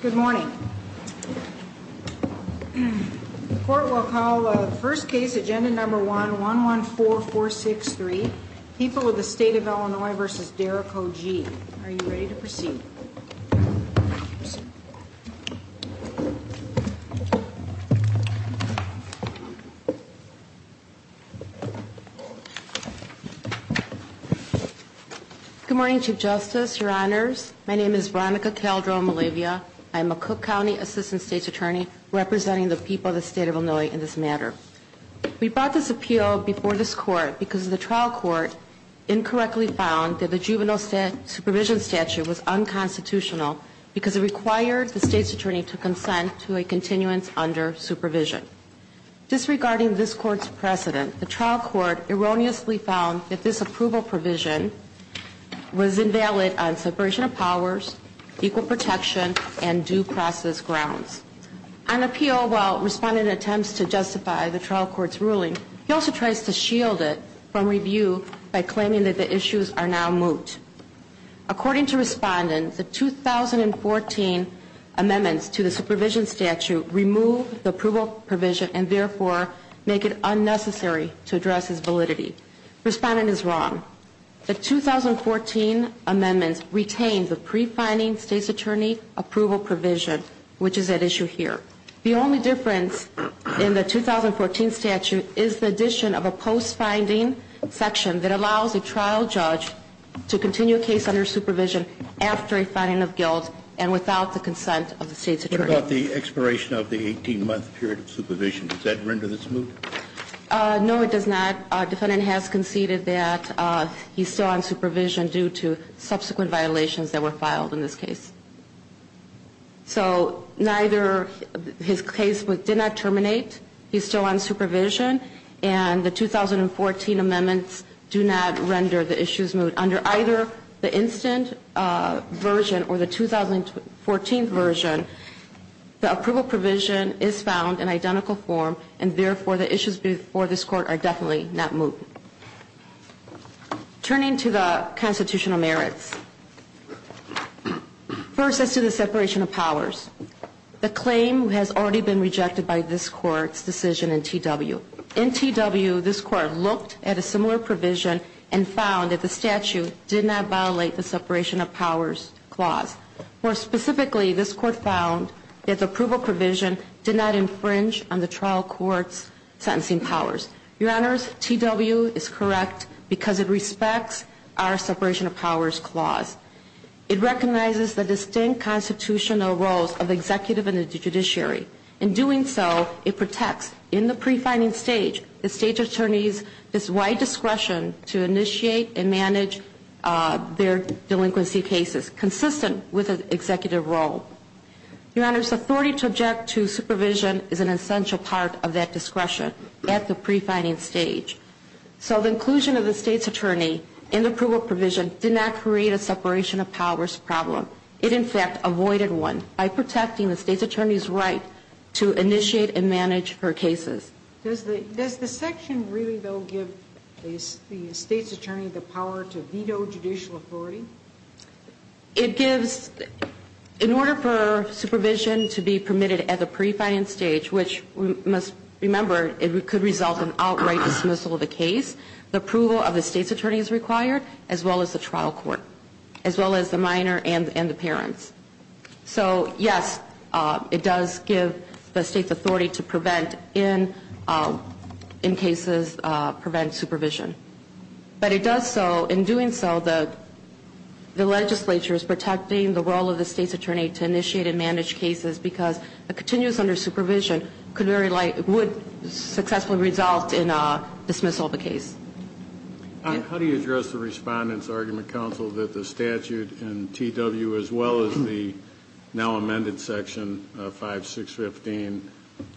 Good morning. The court will call the first case, agenda number 114463. People of the State of Illinois versus Derrico G. Are you ready to proceed? Good morning, Chief Justice, Your Honors. My name is Veronica Calderon-Malavia. I am a Cook County Assistant State's Attorney representing the people of the State of Illinois in this matter. We brought this appeal before this court because the trial court incorrectly found that the juvenile supervision statute was unconstitutional because it required the State's Attorney to consent to a continuance under supervision. Disregarding this court's precedent, the trial court erroneously found that this approval provision was invalid on separation of powers, equal protection, and due process grounds. On appeal, while Respondent attempts to justify the trial court's ruling, he also tries to shield it from review by claiming that the issues are now moot. According to Respondent, the 2014 amendments to the supervision statute remove the approval provision Respondent is wrong. The 2014 amendments retain the pre-finding State's Attorney approval provision, which is at issue here. The only difference in the 2014 statute is the addition of a post-finding section that allows a trial judge to continue a case under supervision after a finding of guilt and without the consent of the State's Attorney. What about the expiration of the 18-month period of supervision? Does that render this moot? No, it does not. Respondent has conceded that he's still on supervision due to subsequent violations that were filed in this case. So neither his case did not terminate, he's still on supervision, and the 2014 amendments do not render the issues moot. Under either the instant version or the 2014 version, the approval provision is found in identical form, and therefore the issues before this Court are definitely not moot. Turning to the constitutional merits. First, as to the separation of powers, the claim has already been rejected by this Court's decision in T.W. In T.W., this Court looked at a similar provision and found that the statute did not violate the separation of powers clause. More specifically, this Court found that the approval provision did not infringe on the trial court's sentencing powers. Your Honors, T.W. is correct because it respects our separation of powers clause. It recognizes the distinct constitutional roles of the executive and the judiciary. In doing so, it protects, in the pre-finding stage, the State's attorneys' wide discretion to initiate and manage their delinquency cases, consistent with an executive role. Your Honors, authority to object to supervision is an essential part of that discretion at the pre-finding stage. So the inclusion of the State's attorney in the approval provision did not create a separation of powers problem. It, in fact, avoided one by protecting the State's attorney's right to initiate and manage her cases. Does the section really, though, give the State's attorney the power to veto judicial authority? It gives, in order for supervision to be permitted at the pre-finding stage, which, we must remember, it could result in outright dismissal of the case, the approval of the State's attorney is required, as well as the trial court, as well as the minor and the parents. So, yes, it does give the State's authority to prevent, in cases, prevent supervision. But it does so, in doing so, the legislature is protecting the role of the State's attorney to initiate and manage cases because a continuous under supervision would successfully result in dismissal of a case. How do you address the Respondent's argument, Counsel, that the statute in T.W., as well as the now amended section 5.6.15,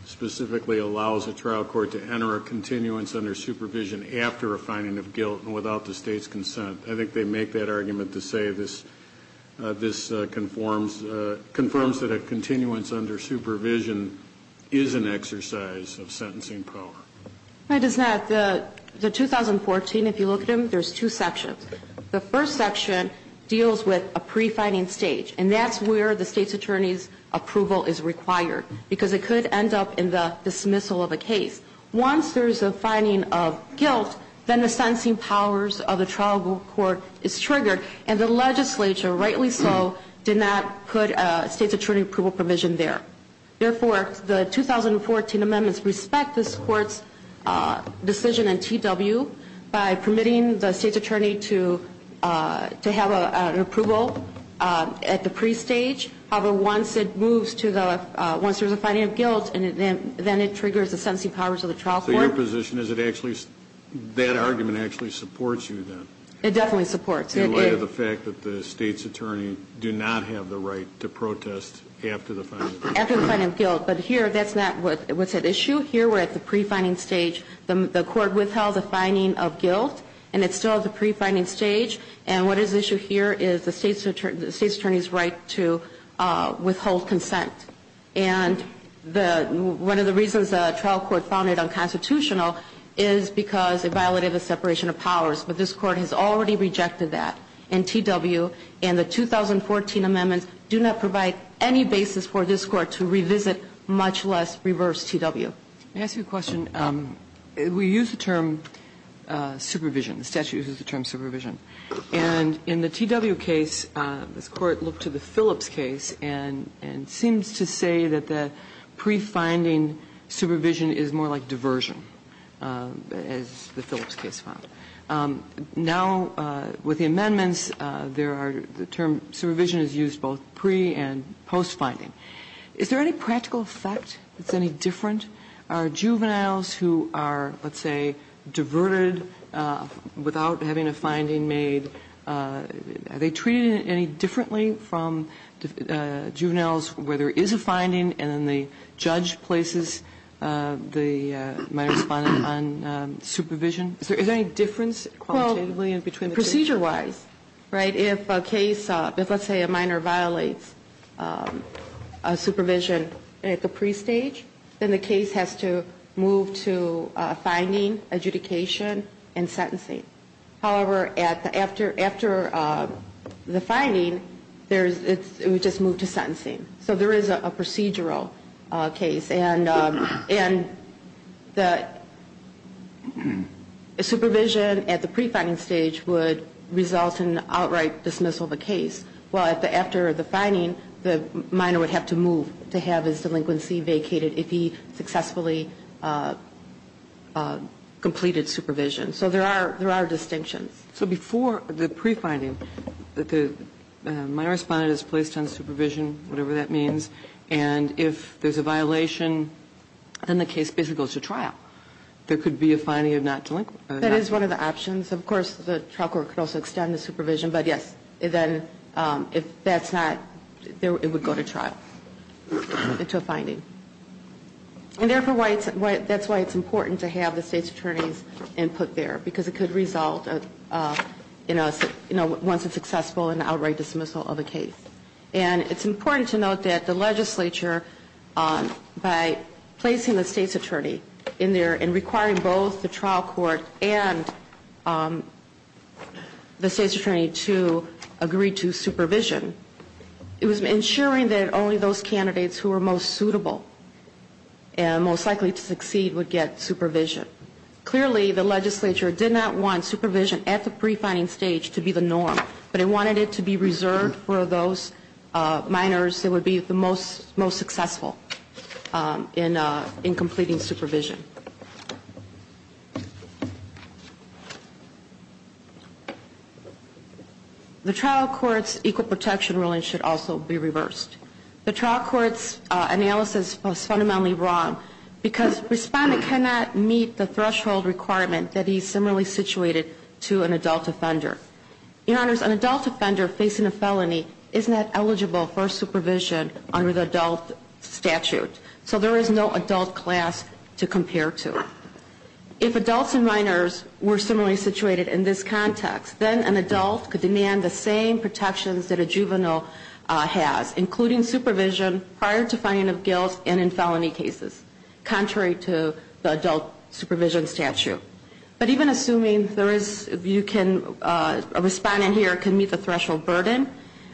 specifically allows a trial court to enter a continuance under supervision after a finding of guilt and without the State's consent? I think they make that argument to say this conforms that a continuance under supervision is an exercise of sentencing power. It is not. The 2014, if you look at them, there's two sections. The first section deals with a pre-finding stage, and that's where the State's attorney's approval is required because it could end up in the dismissal of a case. Once there's a finding of guilt, then the sentencing powers of the trial court is triggered, and the legislature, rightly so, did not put a State's attorney approval provision there. Therefore, the 2014 amendments respect this Court's decision in T.W. by permitting the State's attorney to have an approval at the pre-stage. However, once it moves to the, once there's a finding of guilt, then it triggers the sentencing powers of the trial court. So your position is it actually, that argument actually supports you then? It definitely supports me. In light of the fact that the State's attorney do not have the right to protest after the finding? After the finding of guilt. But here, that's not what's at issue. Here, we're at the pre-finding stage. The Court withheld the finding of guilt, and it's still at the pre-finding stage. And what is at issue here is the State's attorney's right to withhold consent. And one of the reasons the trial court found it unconstitutional is because it violated the separation of powers. But this Court has already rejected that in T.W. And the 2014 amendments do not provide any basis for this Court to revisit, much less reverse T.W. Let me ask you a question. We use the term supervision. The statute uses the term supervision. And in the T.W. case, this Court looked to the Phillips case and seems to say that the pre-finding supervision is more like diversion, as the Phillips case found. Now, with the amendments, there are the term supervision is used both pre- and post-finding. Is there any practical effect that's any different? Are juveniles who are, let's say, diverted without having a finding made, are they treated any differently from juveniles where there is a finding and then the judge places the minor respondent on supervision? Is there any difference qualitatively between the two? Well, procedure-wise, right, if a case, if let's say a minor violates supervision at the pre-stage, then the case has to move to finding, adjudication, and sentencing. However, after the finding, it would just move to sentencing. So there is a procedural case. And the supervision at the pre-finding stage would result in outright dismissal of a case. Well, after the finding, the minor would have to move to have his delinquency vacated if he successfully completed supervision. So there are distinctions. So before the pre-finding, the minor respondent is placed on supervision, whatever that means. And if there's a violation, then the case basically goes to trial. There could be a finding of not delinquent. That is one of the options. Of course, the trial court could also extend the supervision. But, yes, then if that's not, it would go to trial, to a finding. And therefore, that's why it's important to have the State's attorneys input there, because it could result in a, you know, once a successful and outright dismissal of a case. And it's important to note that the legislature, by placing the State's attorney in there and requiring both the trial court and the State's attorney to agree to supervision, it was ensuring that only those candidates who were most suitable and most likely to succeed would get supervision. Clearly, the legislature did not want supervision at the pre-finding stage to be the norm, but it wanted it to be reserved for those minors that would be the most successful in completing supervision. The trial court's equal protection ruling should also be reversed. The trial court's analysis was fundamentally wrong, because respondent cannot meet the threshold requirement that is similarly situated to an adult offender. Your Honors, an adult offender facing a felony is not eligible for supervision under the adult statute. So there is no adult class to compare to. If adults and minors were similarly situated in this context, then an adult could demand the same protections that a juvenile has, including supervision prior to adult supervision statute. But even assuming a respondent here can meet the threshold burden,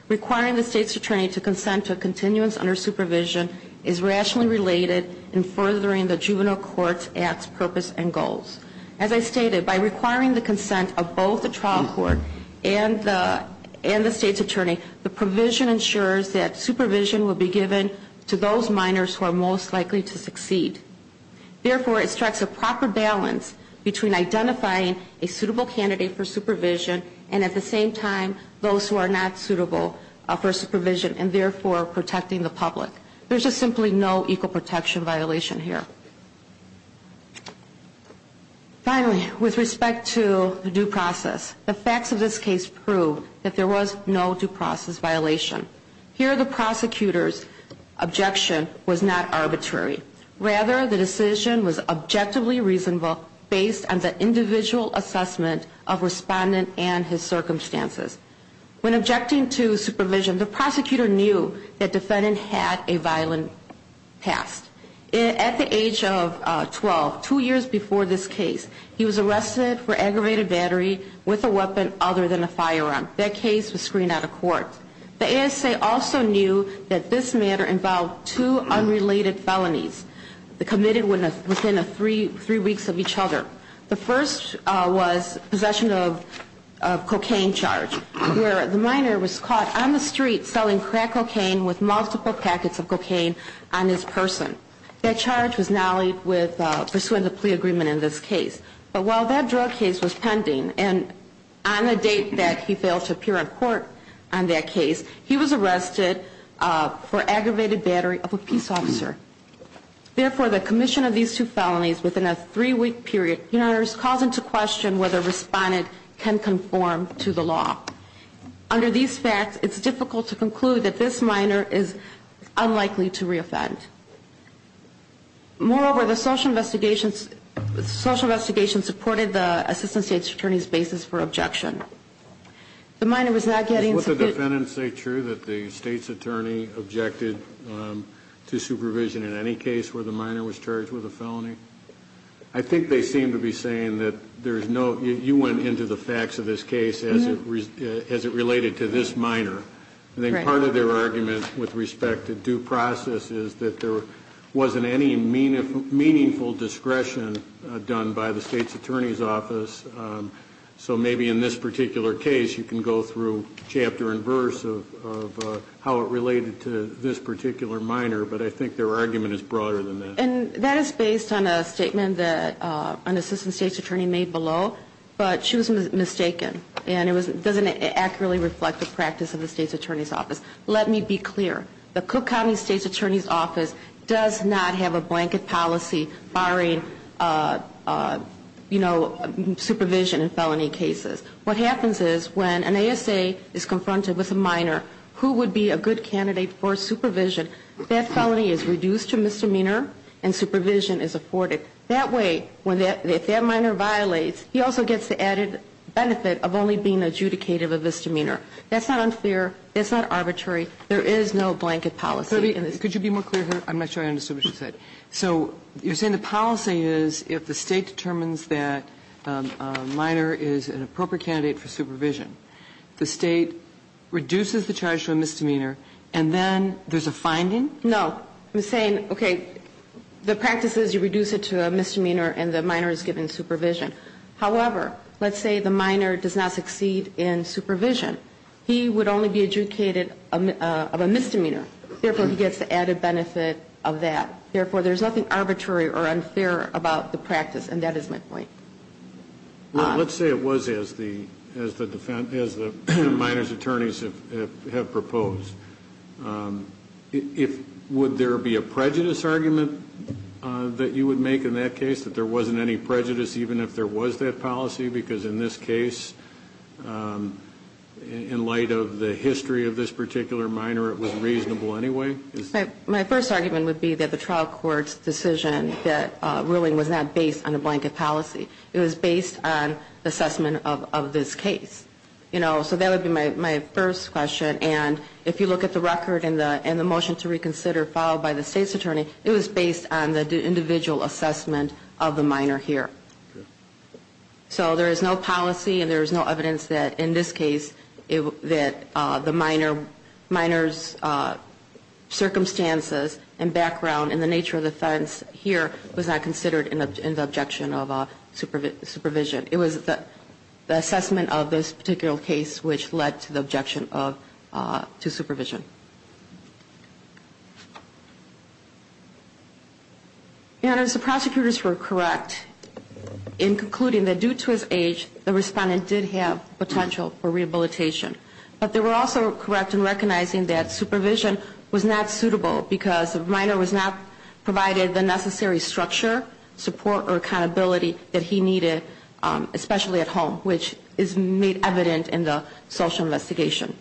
requiring the State's attorney to consent to a continuance under supervision is rationally related in furthering the juvenile court's purpose and goals. As I stated, by requiring the consent of both the trial court and the State's attorney, the provision ensures that supervision will be given to those minors who are most likely to succeed. Therefore, it strikes a proper balance between identifying a suitable candidate for supervision and, at the same time, those who are not suitable for supervision and, therefore, protecting the public. There's just simply no equal protection violation here. Finally, with respect to due process, the facts of this case prove that there was no due process violation. Here, the prosecutor's objection was not arbitrary. Rather, the decision was objectively reasonable based on the individual assessment of respondent and his circumstances. When objecting to supervision, the prosecutor knew that defendant had a violent past. At the age of 12, two years before this case, he was arrested for aggravated battery with a weapon other than a firearm. That case was screened out of court. The ASA also knew that this matter involved two unrelated felonies committed within three weeks of each other. The first was possession of cocaine charge, where the minor was caught on the street selling crack cocaine with multiple packets of cocaine on his person. That charge was nollied with pursuing the plea agreement in this case. But while that drug case was pending, and on the date that he failed to appear in court on that case, he was arrested for aggravated battery of a peace officer. Therefore, the commission of these two felonies within a three-week period calls into question whether respondent can conform to the law. Under these facts, it's difficult to conclude that this minor is unlikely to reoffend. Moreover, the social investigation supported the assistant state attorney's basis for objection. The minor was not getting sufficient... Would the defendant say true that the state's attorney objected to supervision in any case where the minor was charged with a felony? I think they seem to be saying that there's no... You went into the facts of this case as it related to this minor. I think part of their argument with respect to due process is that there wasn't any meaningful discretion done by the state's attorney's office. So maybe in this particular case, you can go through chapter and verse of how it related to this particular minor. But I think their argument is broader than that. And that is based on a statement that an assistant state's attorney made below. But she was mistaken. And it doesn't accurately reflect the practice of the state's attorney's office. Let me be clear. The Cook County state's attorney's office does not have a blanket policy barring supervision in felony cases. What happens is when an ASA is confronted with a minor who would be a good candidate for supervision, that felony is reduced to misdemeanor and supervision is afforded. That way, if that minor violates, he also gets the added benefit of only being adjudicated of misdemeanor. That's not unfair. That's not arbitrary. There is no blanket policy. Could you be more clear here? I'm not sure I understood what she said. So you're saying the policy is if the state determines that a minor is an appropriate candidate for supervision, the state reduces the charge to a misdemeanor and then there's a finding? No. I'm saying, okay, the practice is you reduce it to a misdemeanor and the minor is given supervision. However, let's say the minor does not succeed in supervision. He would only be adjudicated of a misdemeanor. Therefore, he gets the added benefit of that. Therefore, there's nothing arbitrary or unfair about the practice. And that is my point. Let's say it was as the minor's attorneys have proposed. Would there be a prejudice argument that you would make in that case, that there wasn't any prejudice even if there was that policy? Because in this case, in light of the history of this particular minor, it was reasonable anyway? My first argument would be that the trial court's decision that ruling was not based on a blanket policy. It was based on assessment of this case. So that would be my first question. And if you look at the record and the motion to reconsider followed by the state's attorney, it was based on the individual assessment of the minor here. So there is no policy and there is no evidence that in this case, that the minor's circumstances and background and the nature of the offense here was not considered in the objection of supervision. It was the assessment of this particular case which led to the objection to supervision. And as the prosecutors were correct in concluding that due to his age, the respondent did have potential for rehabilitation. But they were also correct in recognizing that supervision was not suitable because the minor was not provided the necessary structure, support or accountability that he needed, especially at home, which is made evident in the social investigation.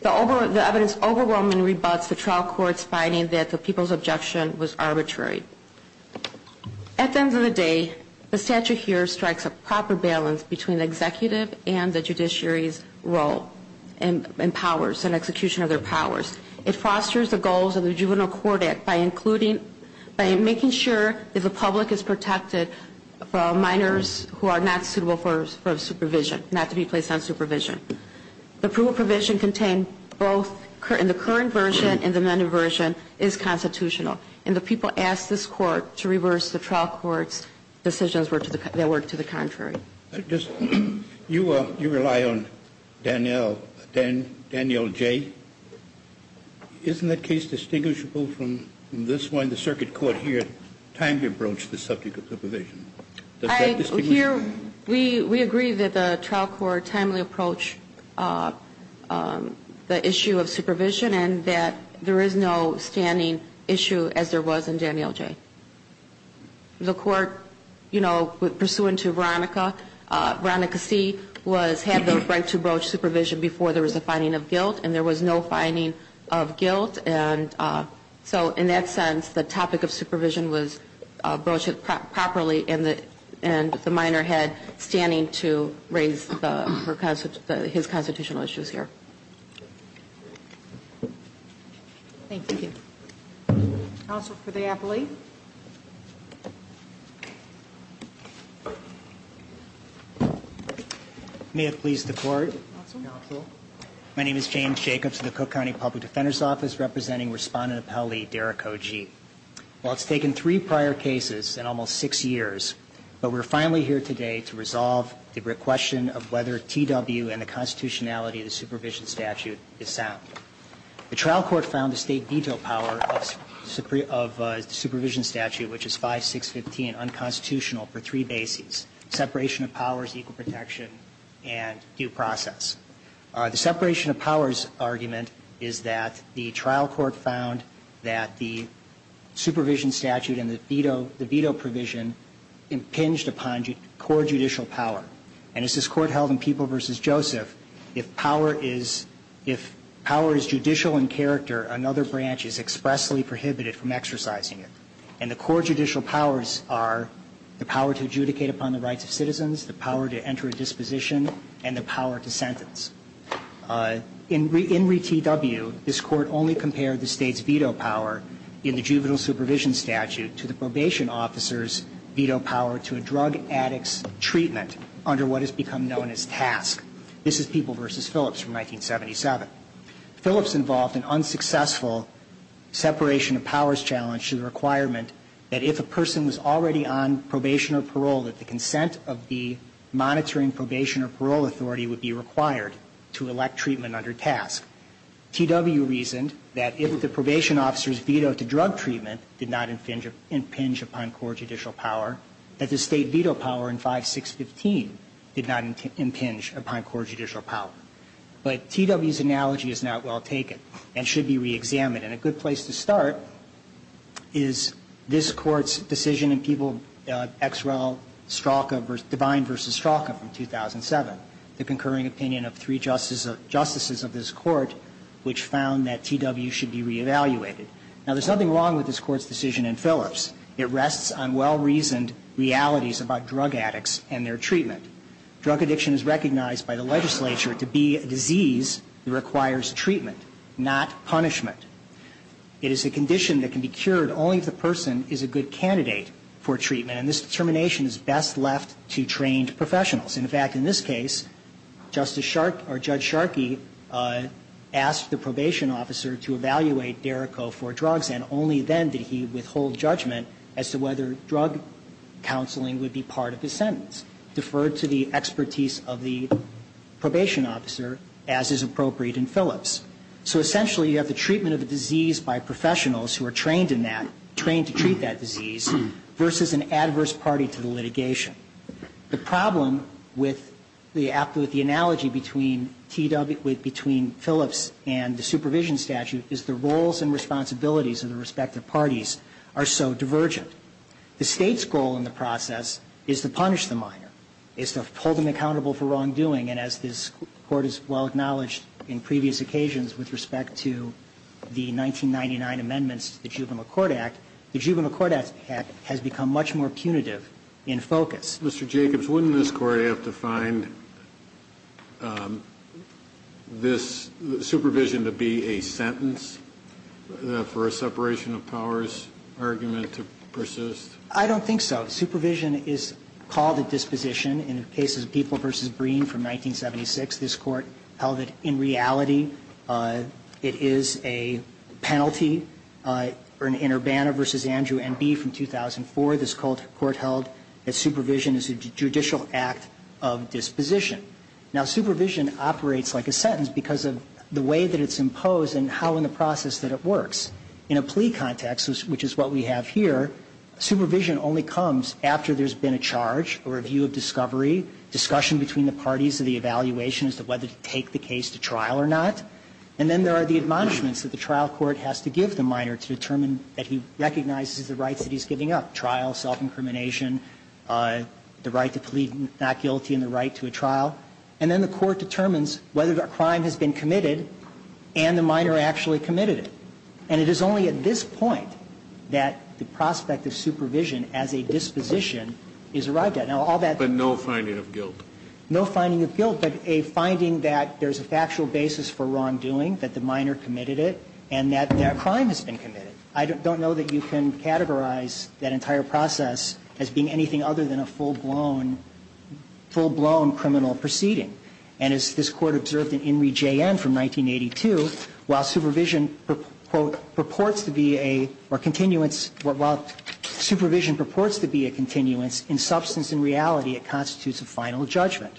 The evidence overwhelmingly rebuts the trial court's finding that the people's objection was arbitrary. At the end of the day, the statute here strikes a proper balance between the executive and the judiciary's role and powers and execution of their powers. It fosters the goals of the Juvenile Court Act by including, by making sure the public is protected for minors who are not suitable for supervision, not to be placed on supervision. The proof of provision contained both in the current version and the amended version is constitutional. And the people asked this court to reverse the trial court's decisions that were to the contrary. You rely on Danielle J. Isn't that case distinguishable from this one? The circuit court here timely approached the subject of the provision. Does that distinguish? We agree that the trial court timely approached the issue of supervision and that there is no standing issue as there was in Danielle J. The court, you know, pursuant to Veronica, Veronica C. had the right to broach supervision before there was a finding of guilt and there was no finding of guilt. And so in that sense, the topic of supervision was broached properly and the minor had standing to raise his constitutional issues here. Thank you. Counsel for the appellee. May it please the court. My name is James Jacobs of the Cook County Public Defender's Office representing Respondent Appellee Derek Ogee. Well, it's taken three prior cases and almost six years, but we're finally here today to resolve the question of whether T.W. and the constitutionality of the supervision statute is sound. The trial court found the state veto power of supervision statute, which is 5, 6, 15, unconstitutional for three bases, separation of powers, equal protection, and due process. The separation of powers argument is that the trial court found that the supervision statute and the veto provision impinged upon core judicial power. And as this court held in People v. Joseph, if power is judicial in character, another branch is expressly prohibited from exercising it. And the core judicial powers are the power to adjudicate upon the rights of citizens, the power to enter a disposition, and the power to sentence. In re T.W., this court only compared the state's veto power in the juvenile supervision statute to the probation officer's veto power to a drug addict's treatment under what has become known as TASC. This is People v. Phillips from 1977. Phillips involved an unsuccessful separation of powers challenge to the requirement that if a person was already on probation or parole, that the consent of the monitoring probation or parole authority would be required to elect treatment under TASC. T.W. reasoned that if the probation officer's veto to drug treatment did not impinge upon core judicial power, that the state veto power in 5, 6, 15 did not impinge upon core judicial power. But T.W.'s analogy is not well taken and should be reexamined. And a good place to start is this Court's decision in People v. Xrel-Stralka, Divine v. Stralka from 2007, the concurring opinion of three justices of this Court, which found that T.W. should be reevaluated. Now, there's nothing wrong with this Court's decision in Phillips. It rests on well-reasoned realities about drug addicts and their treatment. Drug addiction is recognized by the legislature to be a disease that requires treatment, not punishment. It is a condition that can be cured only if the person is a good candidate for treatment. And this determination is best left to trained professionals. In fact, in this case, Justice Sharkey or Judge Sharkey asked the probation officer to evaluate Derrico for drugs, and only then did he withhold judgment as to whether drug counseling would be part of his sentence. Deferred to the expertise of the probation officer, as is appropriate in Phillips. So essentially, you have the treatment of a disease by professionals who are trained in that, trained to treat that disease, versus an adverse party to the litigation. The problem with the analogy between Phillips and the supervision statute is the roles and responsibilities of the respective parties are so divergent. The State's goal in the process is to punish the minor, is to hold them accountable for wrongdoing. And as this Court has well acknowledged in previous occasions with respect to the 1999 amendments to the Juvenile Court Act, the Juvenile Court Act has become much more punitive in focus. Mr. Jacobs, wouldn't this Court have to find this supervision to be a sentence for a separation of powers argument to persist? I don't think so. Supervision is called a disposition. In the case of People v. Breen from 1976, this Court held that in reality it is a penalty in Urbana v. Andrew N.B. from 2004. This Court held that supervision is a judicial act of disposition. Now, supervision operates like a sentence because of the way that it's imposed and how in the process that it works. In a plea context, which is what we have here, supervision only comes after there's been a charge, a review of discovery, discussion between the parties of the evaluation as to whether to take the case to trial or not. And then there are the admonishments that the trial court has to give the minor to determine that he recognizes the rights that he's giving up, trial, self-incrimination, the right to plead not guilty and the right to a trial. And then the court determines whether a crime has been committed and the minor actually committed it. And it is only at this point that the prospect of supervision as a disposition is arrived at. Now, all that ---- But no finding of guilt. No finding of guilt, but a finding that there's a factual basis for wrongdoing, that the minor committed it, and that that crime has been committed. I don't know that you can categorize that entire process as being anything other than a full-blown criminal proceeding. And as this Court observed in In Re. J.N. from 1982, while supervision, quote, purports to be a ---- or continuance ---- while supervision purports to be a continuance, in substance and reality, it constitutes a final judgment.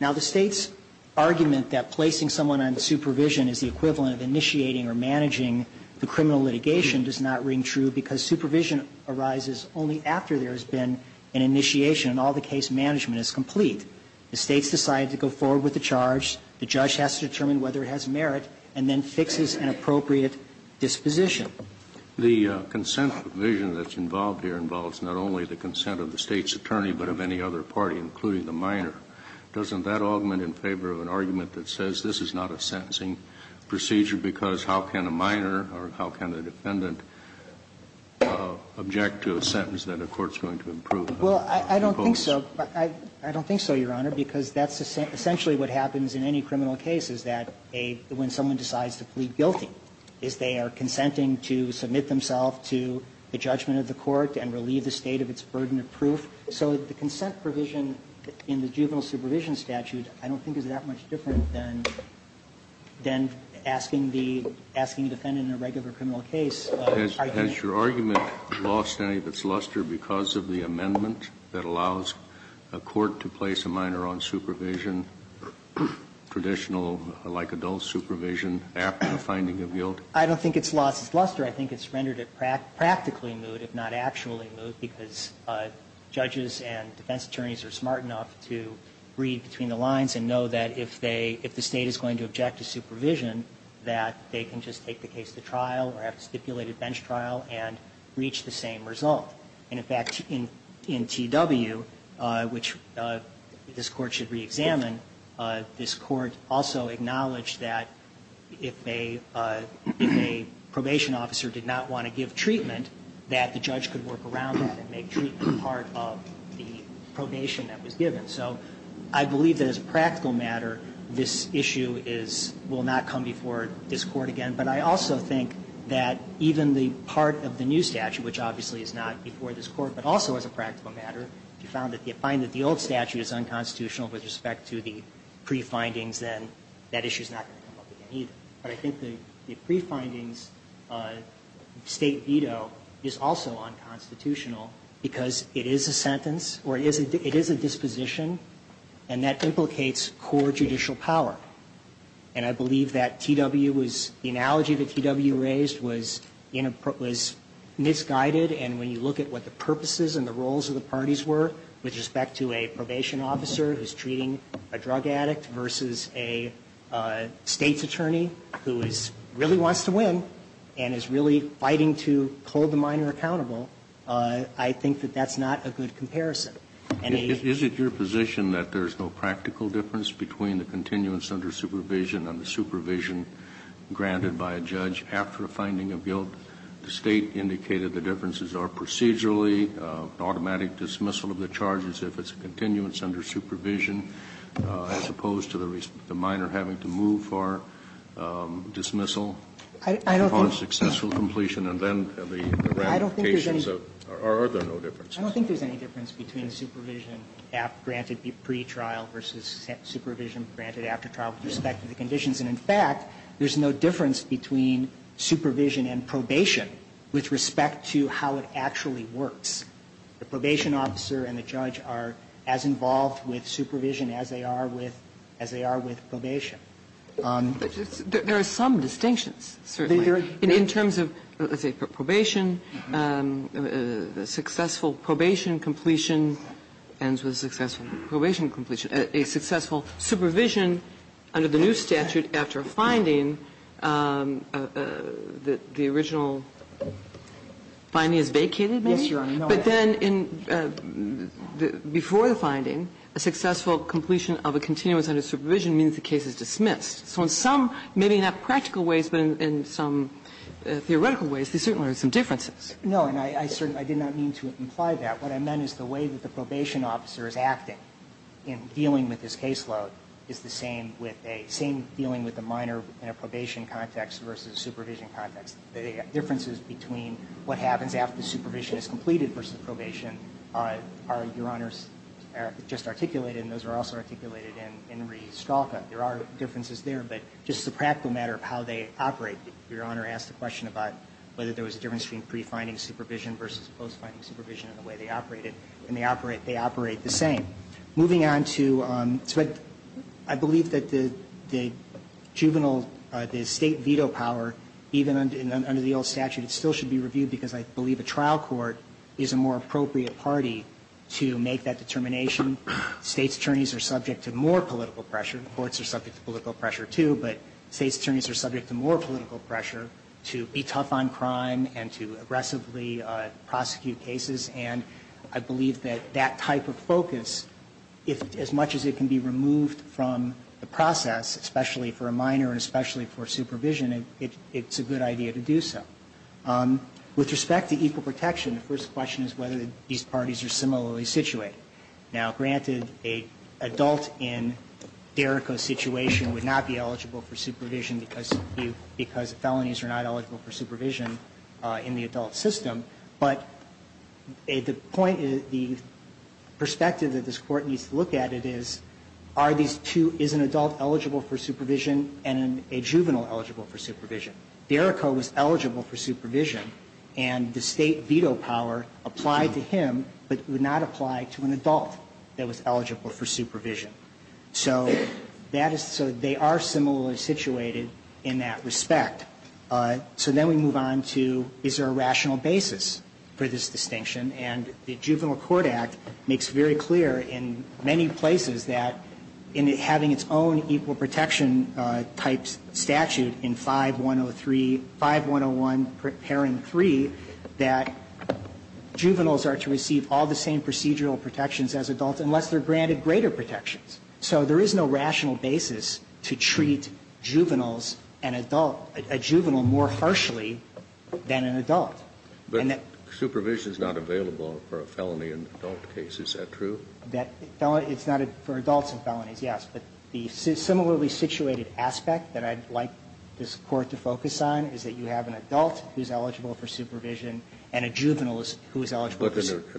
Now, the State's argument that placing someone on supervision is the equivalent of initiating or managing the criminal litigation does not ring true because supervision arises only after there has been an initiation and all the case management is complete. The States decide to go forward with the charge. The judge has to determine whether it has merit and then fixes an appropriate disposition. The consent provision that's involved here involves not only the consent of the State's attorney, but of any other party, including the minor. Doesn't that augment in favor of an argument that says this is not a sentencing procedure because how can a minor or how can a defendant object to a sentence that a court is going to approve? Well, I don't think so. I don't think so, Your Honor, because that's essentially what happens in any criminal case is that a ---- when someone decides to plead guilty, is they are consenting to submit themselves to the judgment of the court and relieve the State of its burden of proof. So the consent provision in the juvenile supervision statute I don't think is that much different than asking the defendant in a regular criminal case. Has your argument lost any of its luster because of the amendment that allows a court to place a minor on supervision, traditional like adult supervision, after the finding of guilt? I don't think it's lost its luster. I think it's rendered it practically moot, if not actually moot, because judges and defense attorneys are smart enough to read between the lines and know that if they ---- if the State is going to object to supervision, that they can just take the case to trial or have a stipulated bench trial and reach the same result. And, in fact, in T.W., which this Court should reexamine, this Court also acknowledged that if a ---- if a probation officer did not want to give treatment, that the judge could work around it and make treatment part of the probation that was given. So I believe that as a practical matter, this issue is ---- will not come before this Court again. But I also think that even the part of the new statute, which obviously is not before this Court, but also as a practical matter, if you find that the old statute is unconstitutional with respect to the pre-findings, then that issue is not going to come up again either. But I think the pre-findings State veto is also unconstitutional because it is a sentence or it is a disposition, and that implicates core judicial power. And I believe that T.W. was ---- the analogy that T.W. raised was in a ---- was misguided. And when you look at what the purposes and the roles of the parties were with respect to a probation officer who is treating a drug addict versus a State's attorney who is ---- really wants to win and is really fighting to hold the minor accountable, I think that that's not a good comparison. And a ---- Kennedy, is it your position that there is no practical difference between the continuance under supervision and the supervision granted by a judge after a finding of guilt? The State indicated the differences are procedurally, automatic dismissal of the charges if it's a continuance under supervision, as opposed to the minor having to move for dismissal upon successful completion, and then the ramifications of ---- I don't think there's any ---- Or are there no differences? I don't think there's any difference between supervision granted pre-trial versus supervision granted after trial with respect to the conditions. And, in fact, there's no difference between supervision and probation with respect to how it actually works. The probation officer and the judge are as involved with supervision as they are with ---- as they are with probation. There are some distinctions, certainly. In terms of, let's say, probation, successful probation completion ends with successful probation completion. A successful supervision under the new statute after a finding, the original finding is vacated, maybe? But then in the ---- before the finding, a successful completion of a continuance under supervision means the case is dismissed. So in some, maybe not practical ways, but in some theoretical ways, there certainly are some differences. No, and I certainly did not mean to imply that. What I meant is the way that the probation officer is acting in dealing with his caseload is the same with a ---- same dealing with the minor in a probation context versus a supervision context. The differences between what happens after the supervision is completed versus probation are, Your Honors, just articulated, and those are also articulated in re-stalker. There are differences there, but just as a practical matter of how they operate, Your Honor asked a question about whether there was a difference between pre-finding supervision versus post-finding supervision and the way they operated. And they operate the same. Moving on to ---- I believe that the juvenile ---- the State veto power, even under the old statute, still should be reviewed because I believe a trial court is a more appropriate party to make that determination. State's attorneys are subject to more political pressure. Courts are subject to political pressure, too, but State's attorneys are subject to more political pressure to be tough on crime and to aggressively prosecute cases. And I believe that that type of focus, as much as it can be removed from the process, especially for a minor and especially for supervision, it's a good idea to do so. With respect to equal protection, the first question is whether these parties are similarly situated. Now, granted, an adult in D'Errico's situation would not be eligible for supervision because felonies are not eligible for supervision in the adult system. But the point is, the perspective that this Court needs to look at it is, are these two ---- is an adult eligible for supervision and a juvenile eligible for supervision? D'Errico was eligible for supervision and the State veto power applied to him, but would not apply to an adult that was eligible for supervision. So that is ---- so they are similarly situated in that respect. So then we move on to, is there a rational basis for this distinction? And the Juvenile Court Act makes very clear in many places that in having its own equal protection type statute in 5103 ---- 5101 paren 3, that juveniles are to receive all the same procedural protections as adults unless they're granted greater protections. So there is no rational basis to treat juveniles and adult ---- a juvenile more harshly than an adult. And that ---- Kennedy, but supervision is not available for a felony in an adult case. Is that true? D'Errico, that felon ---- it's not for adults and felonies, yes. But the similarly situated aspect that I'd like this Court to focus on is that you have an adult who is eligible for supervision and a juvenile who is eligible for supervision. Is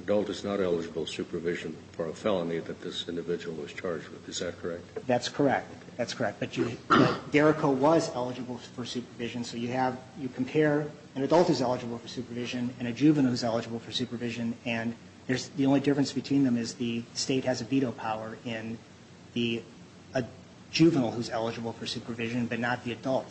that correct? That's correct. That's correct. But you ---- D'Errico was eligible for supervision. So you have ---- you compare an adult who is eligible for supervision and a juvenile who is eligible for supervision, and there's ---- the only difference between them is the State has a veto power in the juvenile who is eligible for supervision, but not the adult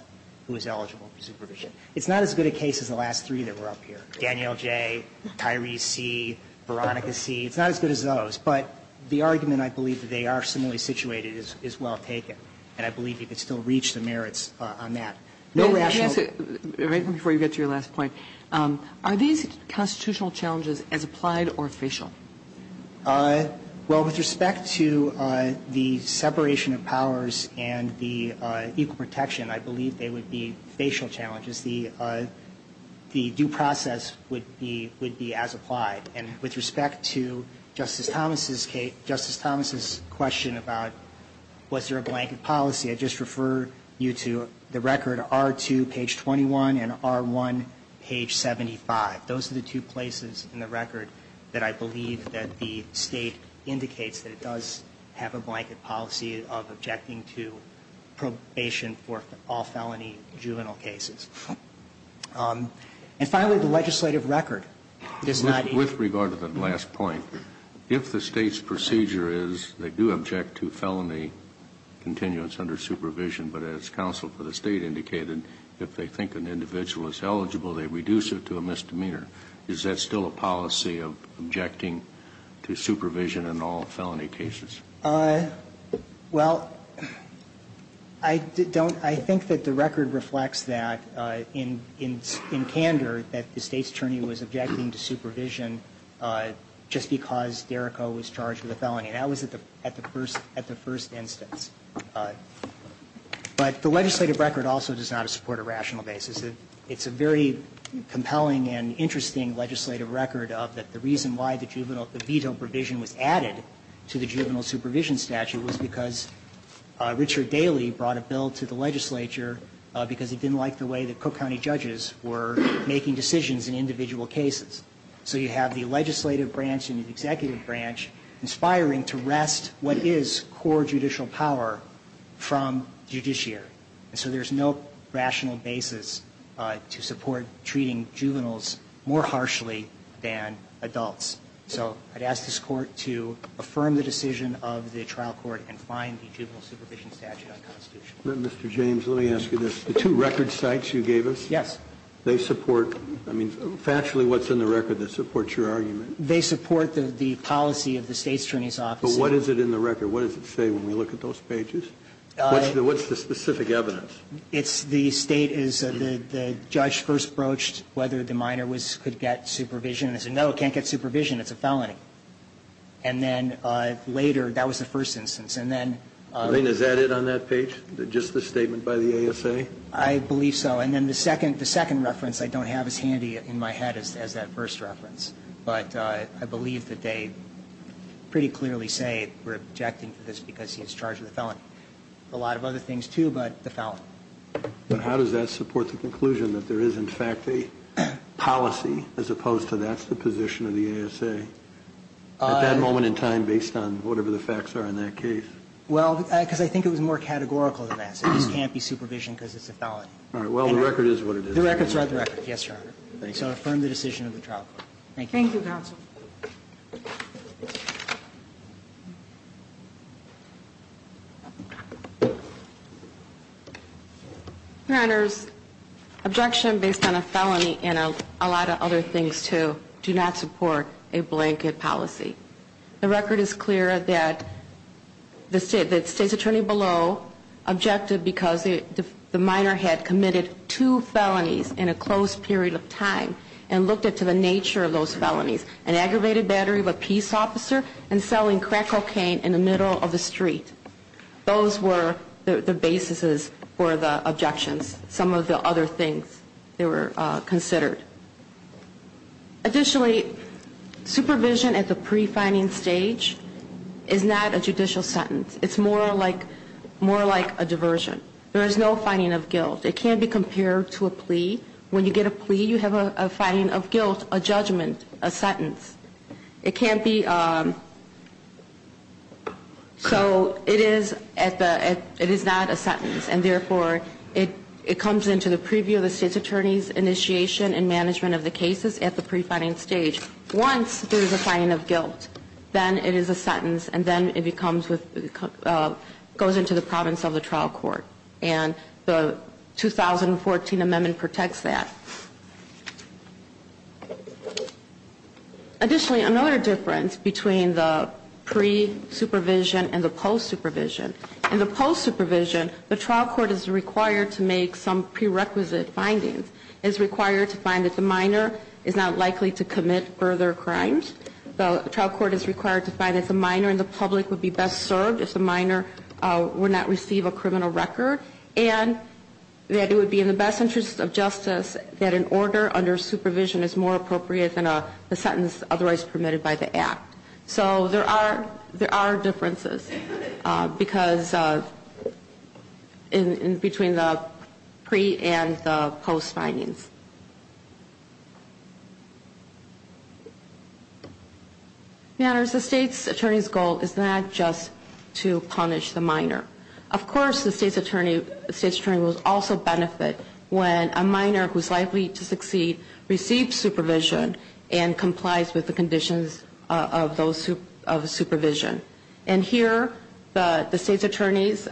who is eligible for supervision. It's not as good a case as the last three that were up here, Daniel J., Tyrese C., Veronica C. It's not as good as those. But the argument, I believe, that they are similarly situated is well taken. And I believe you could still reach the merits on that. No rational ---- Let me ask you, right before you get to your last point, are these constitutional challenges as applied or facial? Well, with respect to the separation of powers and the equal protection, I believe they would be facial challenges. The due process would be as applied. And with respect to Justice Thomas's case ---- Justice Thomas's question about was there a blanket policy, I'd just refer you to the record R2, page 21, and R1, page 75. Those are the two places in the record that I believe that the State indicates that it does have a blanket policy of objecting to probation for all felony juvenile cases. And finally, the legislative record does not ---- With regard to the last point, if the State's procedure is they do object to felony continuance under supervision, but as counsel for the State indicated, if they think an individual is eligible, they reduce it to a misdemeanor. Is that still a policy of objecting to supervision in all felony cases? Well, I don't ---- I think that the record reflects that in candor that the State's attorney was objecting to supervision just because Derrico was charged with a felony. And that was at the first instance. But the legislative record also does not support a rational basis. It's a very compelling and interesting legislative record of that the reason why the Court rejected the juvenile supervision statute was because Richard Daly brought a bill to the legislature because he didn't like the way the Cook County judges were making decisions in individual cases. So you have the legislative branch and the executive branch inspiring to wrest what is core judicial power from judiciary. And so there's no rational basis to support treating juveniles more harshly than adults. So I'd ask this Court to affirm the decision of the trial court and find the juvenile supervision statute unconstitutional. But, Mr. James, let me ask you this. The two record sites you gave us? Yes. They support ---- I mean, factually, what's in the record that supports your argument? They support the policy of the State's attorney's office. But what is it in the record? What does it say when we look at those pages? What's the specific evidence? It's the State is the judge first broached whether the minor was ---- could get supervision. And they said, no, can't get supervision. It's a felony. And then later, that was the first instance. And then ---- I mean, is that it on that page? Just the statement by the ASA? I believe so. And then the second reference I don't have as handy in my head as that first reference. But I believe that they pretty clearly say we're objecting to this because he's charged with a felony. A lot of other things, too, but the felony. But how does that support the conclusion that there is, in fact, a policy as opposed to that's the position of the ASA at that moment in time based on whatever the facts are in that case? Well, because I think it was more categorical than that. It just can't be supervision because it's a felony. All right. Well, the record is what it is. The record's right. The record. Yes, Your Honor. So I affirm the decision of the trial court. Thank you. Thank you, counsel. Your Honors, objection based on a felony and a lot of other things, too, do not support a blanket policy. The record is clear that the state's attorney below objected because the minor had committed two felonies in a closed period of time and looked into the nature of those felonies. An aggravated battery of a peace officer and selling crack cocaine in the middle of the street. Those were the basis for the objections. Some of the other things that were considered. Additionally, supervision at the pre-finding stage is not a judicial sentence. It's more like a diversion. There is no finding of guilt. It can't be compared to a plea. When you get a plea, you have a finding of guilt, a judgment, a sentence. It can't be, so it is at the, it is not a sentence. And therefore, it comes into the preview of the state's attorney's initiation and management of the cases at the pre-finding stage. Once there is a finding of guilt, then it is a sentence and then it becomes, goes into the province of the trial court. And the 2014 amendment protects that. Additionally, another difference between the pre-supervision and the post-supervision. In the post-supervision, the trial court is required to make some prerequisite findings. It is required to find that the minor is not likely to commit further crimes. The trial court is required to find that the minor in the public would be best served if the minor would not receive a criminal record and that it would be in the best interest of justice that an order under supervision is more appropriate than a sentence otherwise permitted by the act. So there are, there are differences because, in between the pre- and the post-findings. Matters, the state's attorney's goal is not just to punish the minor. Of course, the state's attorney will also benefit when a minor who is likely to succeed receives supervision and complies with the conditions of those, of supervision. And here, the state's attorneys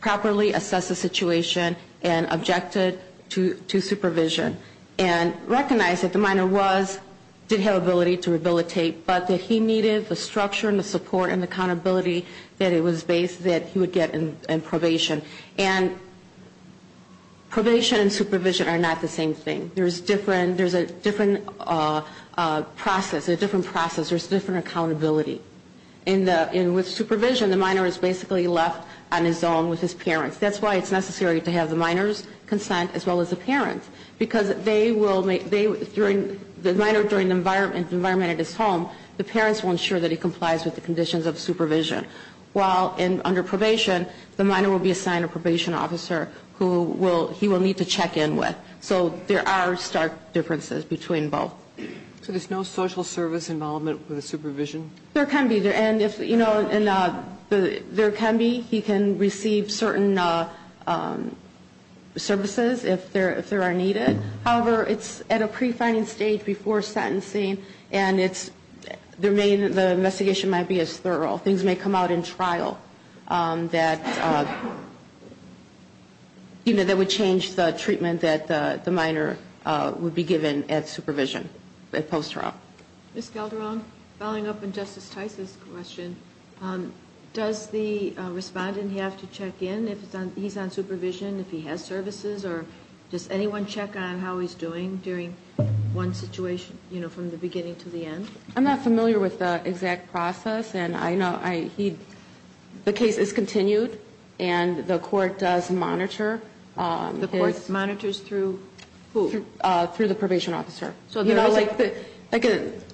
properly assess the situation and objected to supervision and recognized that the minor was, did have ability to rehabilitate, but that he needed the structure and the support and accountability that it was based, that he would get in probation. And probation and supervision are not the same thing. There's different, there's a different process, a different process. There's different accountability. In the, in with supervision, the minor is basically left on his own with his parents. That's why it's necessary to have the minor's consent as well as the parent's. Because they will, they, during, the minor during the environment, the environment at his home, the parents will ensure that he complies with the conditions of supervision. While in, under probation, the minor will be assigned a probation officer who will, he will need to check in with. So there are stark differences between both. So there's no social service involvement with the supervision? There can be. And if, you know, and there can be, he can receive certain services if there are needed. However, it's at a pre-finding stage before sentencing and it's, there may, the investigation might be as thorough. Things may come out in trial that, you know, that would change the treatment that the minor would be given at supervision, at post-trial. Ms. Calderon, following up on Justice Tice's question, does the respondent have to check in if he's on supervision, if he has services, or does anyone check on how he's doing during one situation, you know, from the beginning to the end? I'm not familiar with the exact process and I know I, he, the case is continued and the court does monitor. The court monitors through who? Through the probation officer. You know, like,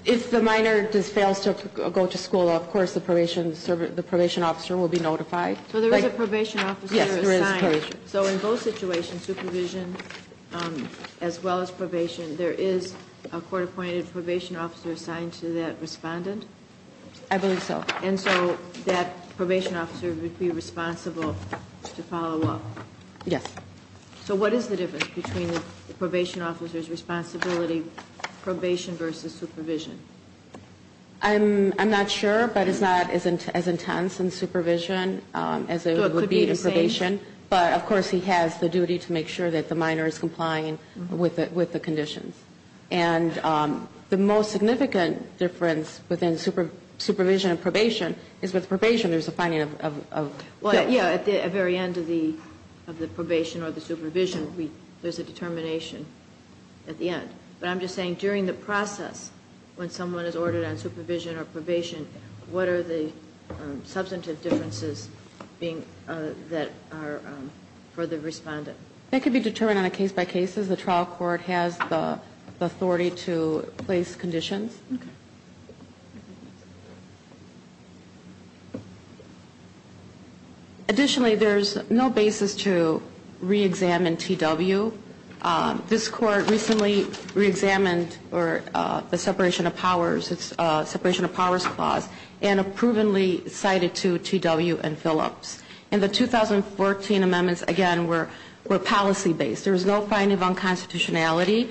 if the minor just fails to go to school, of course the probation officer will be notified. So there is a probation officer assigned? Yes, there is a probation officer. So in both situations, supervision as well as probation, there is a court-appointed probation officer assigned to that respondent? I believe so. And so that probation officer would be responsible to follow up? Yes. So what is the difference between the probation officer's responsibility, probation versus supervision? I'm not sure, but it's not as intense in supervision as it would be in probation. So it could be the same? But, of course, he has the duty to make sure that the minor is complying with the conditions. And the most significant difference within supervision and probation is with probation there's a finding of guilt. Well, yeah, at the very end of the probation or the supervision, there's a determination at the end. But I'm just saying during the process, when someone is ordered on supervision or probation, what are the substantive differences that are for the respondent? That could be determined on a case-by-case. The trial court has the authority to place conditions. Okay. Additionally, there's no basis to re-examine T.W. This court recently re-examined the separation of powers clause and approvingly cited to T.W. and Phillips. And the 2014 amendments, again, were policy-based. There was no finding of unconstitutionality.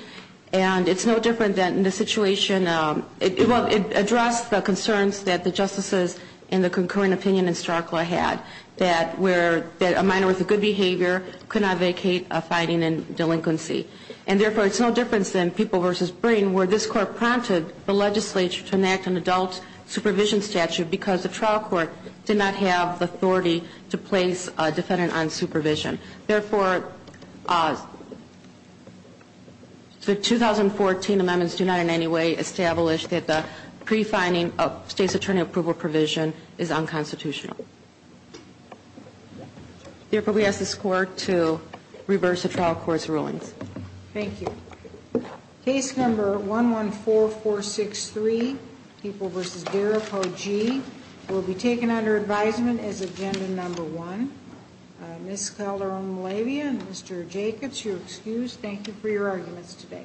And it's no different than the situation, well, it addressed the concerns that the justices in the concurring opinion in Starklaw had that a minor with a good behavior could not vacate a finding in delinquency. And, therefore, it's no difference than People v. Breen where this court prompted the legislature to enact an adult supervision statute because the trial court did not have the authority to place a defendant on supervision. Therefore, the 2014 amendments do not in any way establish that the pre-finding of state's attorney approval provision is unconstitutional. Therefore, we ask this court to reverse the trial court's rulings. Thank you. Case number 114463, People v. Darapogee, will be taken under advisement as agenda number one. Ms. Calderon-Malavia and Mr. Jacobs, you're excused. Thank you for your arguments today.